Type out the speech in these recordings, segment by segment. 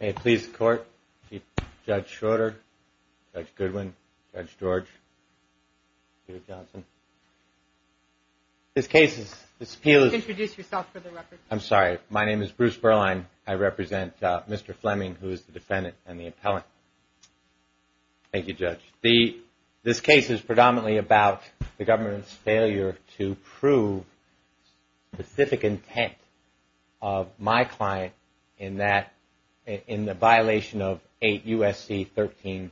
May it please the court, Judge Schroeder, Judge Goodwin, Judge George, Peter Johnson. This case is, this appeal is, I'm sorry, my name is Bruce Berline, I represent Mr. Flemming who is the defendant and the appellant. Thank you judge. The, this case is predominantly about the government's failure to prove specific intent of my client in that, in the violation of 8 U.S.C. 1324A,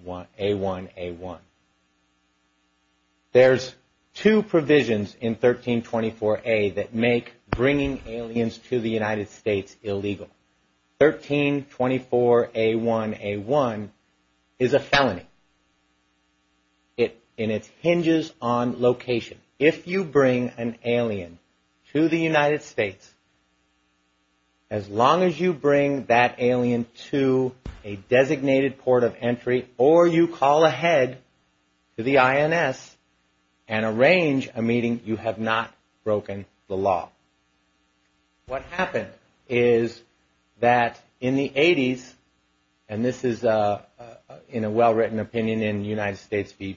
A1, A1. There's two provisions in 1324A that make bringing aliens to the in its hinges on location. If you bring an alien to the United States, as long as you bring that alien to a designated port of entry or you call ahead to the INS and arrange a meeting, you have not broken the law. What happened is that in the 80s, and this is in a well-written opinion in United States v.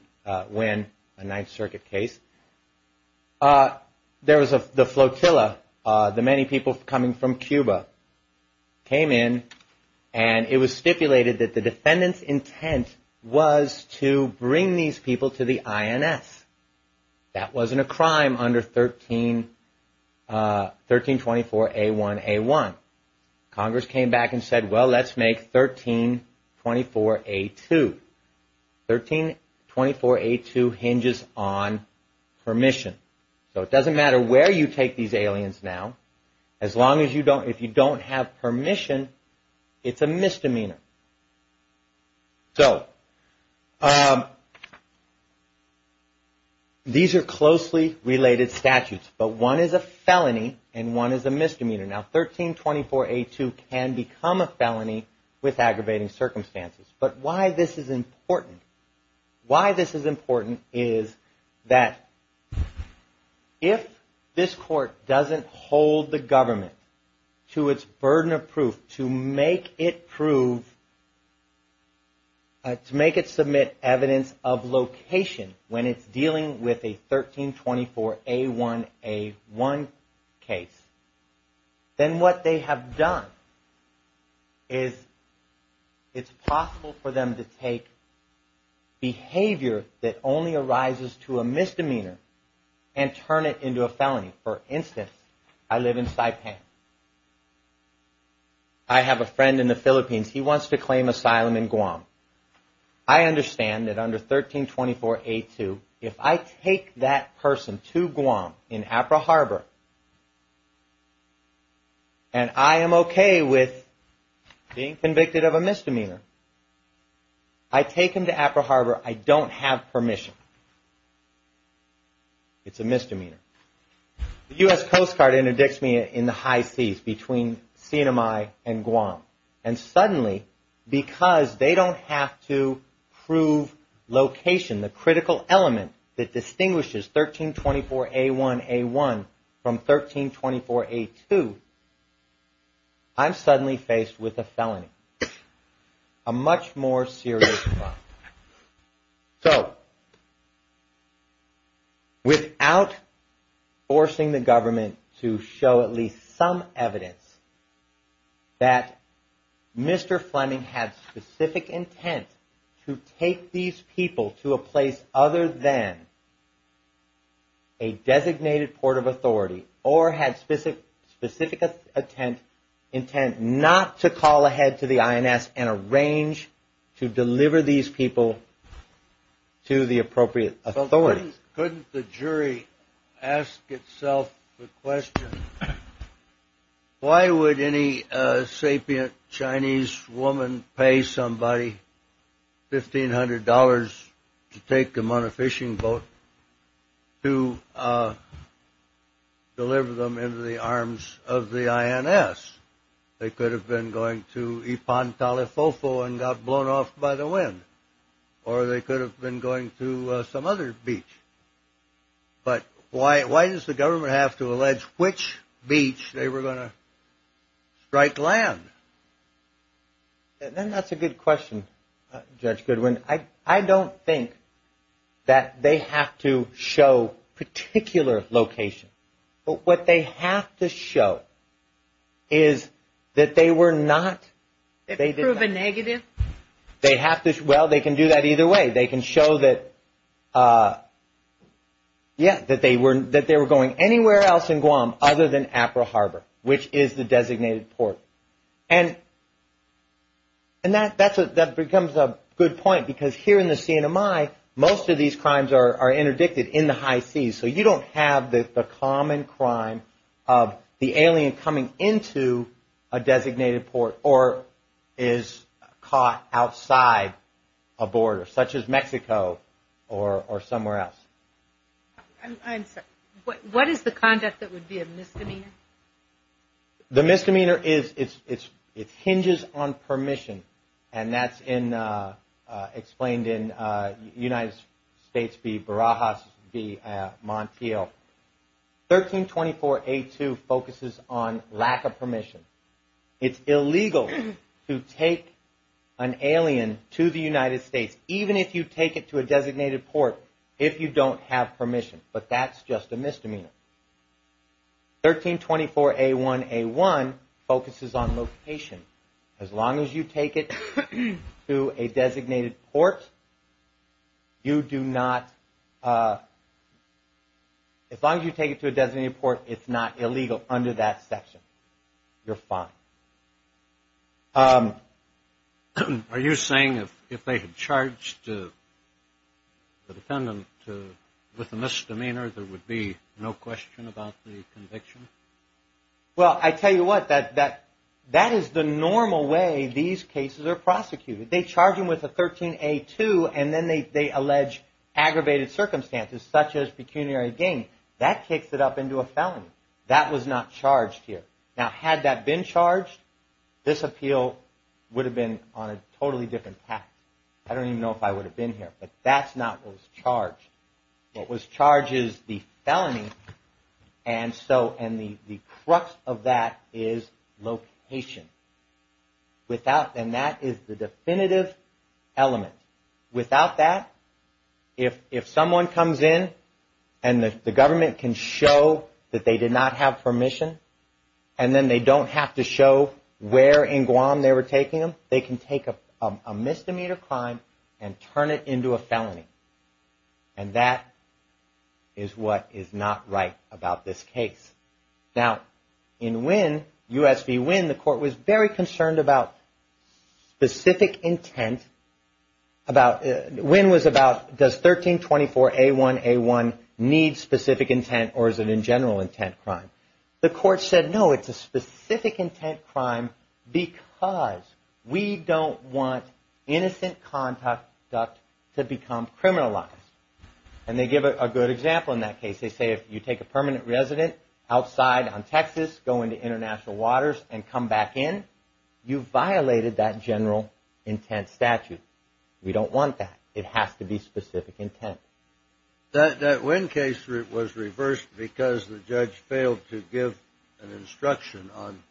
Wynn, a 9th Circuit case, there was the flotilla, the many people coming from Cuba came in and it was stipulated that the 1324A, A1, A1. Congress came back and said, well, let's make 1324A, 2. 1324A, 2 hinges on permission. So it doesn't matter where you take these aliens now, as long as you don't, if you don't have permission, it's a felony and one is a misdemeanor. Now 1324A, 2 can become a felony with aggravating circumstances. But why this is important? Why this is important is that if this court doesn't hold the government to its burden of proof to make it submit evidence of location when it's dealing with a 1324A, 1, A1 case, then what they have done is it's possible for them to take behavior that only arises to a misdemeanor and turn it into a felony. For instance, I live in Saipan. I have a friend in the Philippines. He wants to claim asylum in Guam. I understand that under 1324A, 2, if I take that person to Guam in Apaharbor and I am okay with being convicted of a misdemeanor, I take him to Apaharbor. I don't have permission. It's a felony. And suddenly, because they don't have to prove location, the critical element that distinguishes 1324A, 1, A1 from 1324A, 2, I'm not forcing the government to show at least some evidence that Mr. Fleming had specific intent to take these people to a place other than a designated port of authority or had specific intent not to call ahead to the INS and arrange to deliver these people to the appropriate authorities. Couldn't the jury ask itself the question, why would any sapient Chinese woman pay somebody $1,500 to take them on a fishing boat to deliver them into the arms of the INS? They could have been going to Ipan Talifofo and got blown off by the wind. Or they could have been going to some other beach. But why does the government have to allege which beach they were going to strike land? And that's a good question, Judge Goodwin. I don't think that they have to show particular location. But what they have to show is that they were not, they have to, well, they can do that either way. They can show that, yeah, that they were going anywhere else in Guam other than Apra Harbor, which is the designated port. And that becomes a good point because here in the CNMI, most of these crimes are interdicted in the high seas. So you don't have the common crime of the alien coming into a designated port or is caught outside a border, such as Mexico or somewhere else. What is the conduct that would be a misdemeanor? The misdemeanor is, it hinges on permission. And that's explained in United States v. Barajas v. Montiel. 1324A2 focuses on lack of permission. It's illegal to take an alien to the United States, even if you take it to a designated port, if you don't have permission. But that's just a 1324A1A1 focuses on location. As long as you take it to a designated port, you do not, as long as you take it to a designated port, it's not illegal under that section. You're fine. Are you saying if they had charged the defendant with a misdemeanor, there would be no question about the conviction? Well, I tell you what, that is the normal way these cases are prosecuted. They charge them with a 13A2 and then they allege aggravated circumstances, such as pecuniary gain. That kicks it up into a felony. That was not charged here. Now, had that been charged, this appeal would have been on a totally different path. I don't even know if I would have been here, but that's not what was charged. What was charged is the felony. And the crux of that is location. And that is the definitive element. Without that, if someone comes in and the government can show that they did not have permission, and then they don't have to show where in Guam they were taking them, they can take a misdemeanor crime and turn it into a felony. And that is what is not right about this case. Now, in U.S. v. Wynne, the court was very concerned about specific intent. Wynne was about does 1324A1A1 need specific intent or is it in general intent crime? The court said no, it's a specific intent crime because we don't want innocent conduct to become criminalized. And they give a good example in that case. They say if you take a permanent resident outside on Texas, go into international waters and come back in, you violated that general intent statute. We don't want that. It has to be specific intent. That Wynne case was reversed because the judge failed to give an instruction on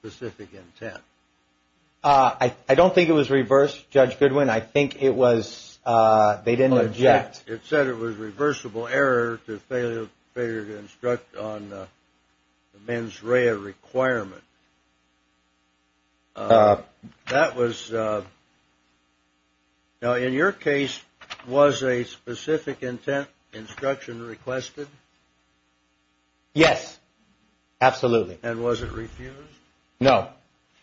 specific intent. I don't think it was reversed, Judge Goodwin. I think it was they didn't object. It said it was reversible error to failure to instruct on the mens rea requirement. Now, in your case, was a specific intent instruction requested? Yes, absolutely. And was it refused? No,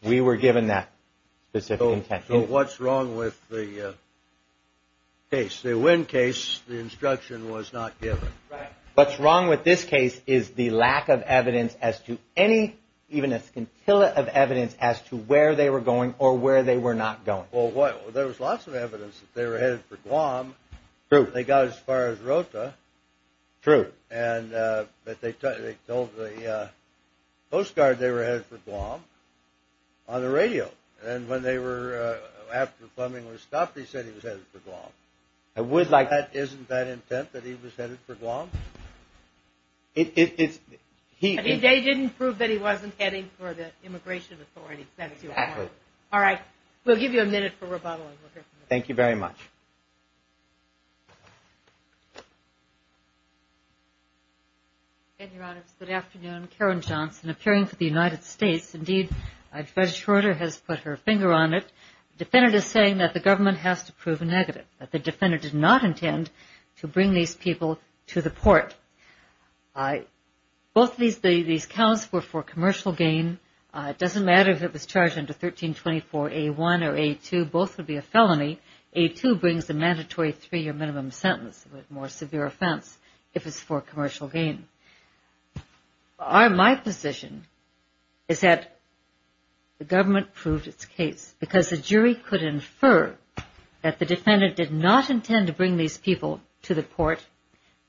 we were given that specific intent. So what's wrong with the case? The Wynne case, the instruction was not given. What's wrong with this case is the lack of evidence as to any, even a scintilla of evidence as to where they were going or where they were not going. Well, there was lots of evidence that they were headed for Guam. They got as far as Rota. True. But they told the postcard they were headed for Guam on the radio. And when they were, after Fleming was stopped, he said he was headed for Guam. Isn't that intent that he was headed for Guam? They didn't prove that he wasn't heading for the immigration authorities. That's your point. All right. We'll give you a minute for rebuttal. Thank you very much. And your Honor, good afternoon. Karen Johnson, appearing for the United States. Indeed, Judge Schroeder has put her finger on it. Defendant is saying that the government has to prove a negative, that the defendant did not intend to bring these people to the port. Both of these counts were for commercial gain. It doesn't matter if it was charged under 1324A1 or A2, both would be a felony. A2 brings a mandatory three-year minimum sentence with more severe offense if it's for commercial gain. My position is that the government proved its case because the jury could infer that the defendant did not intend to bring these people to the port,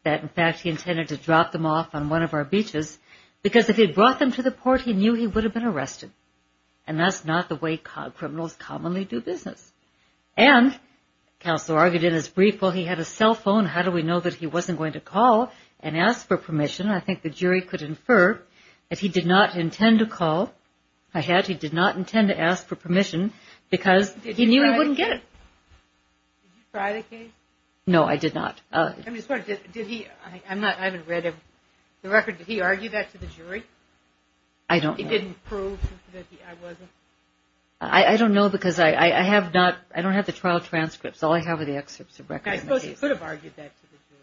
that, in fact, he intended to drop them off on one of our beaches, because if he brought them to the port, he knew he would have been arrested. And that's not the way criminals commonly do business. And counsel argued in his brief, well, he had a cell phone. How do we know that he wasn't going to call and ask for permission? I think the jury could infer that he did not intend to call ahead. He did not intend to ask for permission because he knew he wouldn't get it. Did you try the case? No, I did not. I'm just wondering, did he – I haven't read the record. Did he argue that to the jury? I don't know. He didn't prove that he – I wasn't? I don't know, because I have not – I don't have the trial transcripts. All I have are the excerpts of records. I suppose he could have argued that to the jury.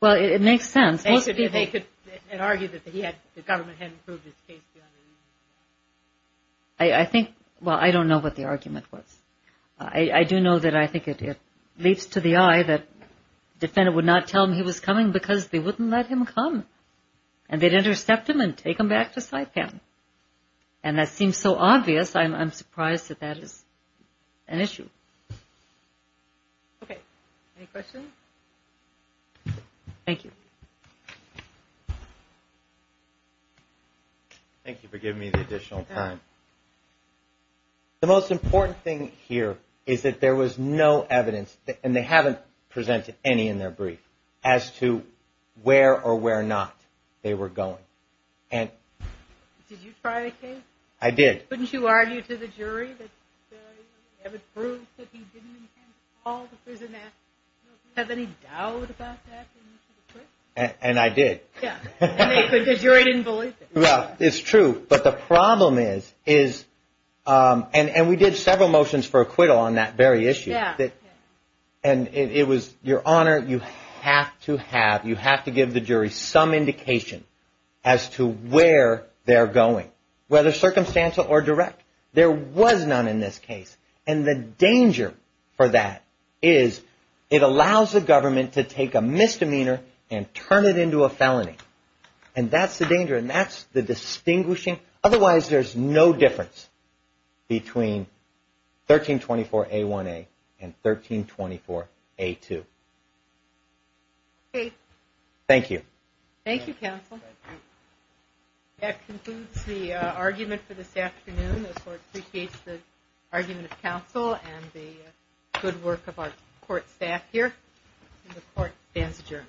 Well, it makes sense. They could argue that he had – the government hadn't proved his case. I think – well, I don't know what the argument was. I do know that I think it leaps to the eye that the defendant would not tell him he was coming because they wouldn't let him come. And they'd intercept him and take him back to Saipan. And that seems so obvious. I'm surprised that that is an issue. Okay. Any questions? Thank you. Thank you for giving me the additional time. The most important thing here is that there was no evidence, and they haven't presented any in their brief, as to where or where not they were going. And – Did you try the case? I did. Couldn't you argue to the jury that the evidence proved that he didn't intend to call the prison after? Do you have any doubt about that? And I did. Yeah. Because the jury didn't believe it. Well, it's true. But the problem is – and we did several motions for acquittal on that very issue. Yeah. And it was – Your Honor, you have to have – you have to give the jury some indication as to where they're going, whether circumstantial or direct. There was none in this case. And the danger for that is it allows the government to take a misdemeanor and turn it into a felony. And that's the danger. And that's the distinguishing – otherwise, there's no difference between 1324A1A and 1324A2. Okay. Thank you. Thank you, counsel. That concludes the argument for this afternoon. I appreciate the argument of counsel and the good work of our court staff here. The court stands adjourned.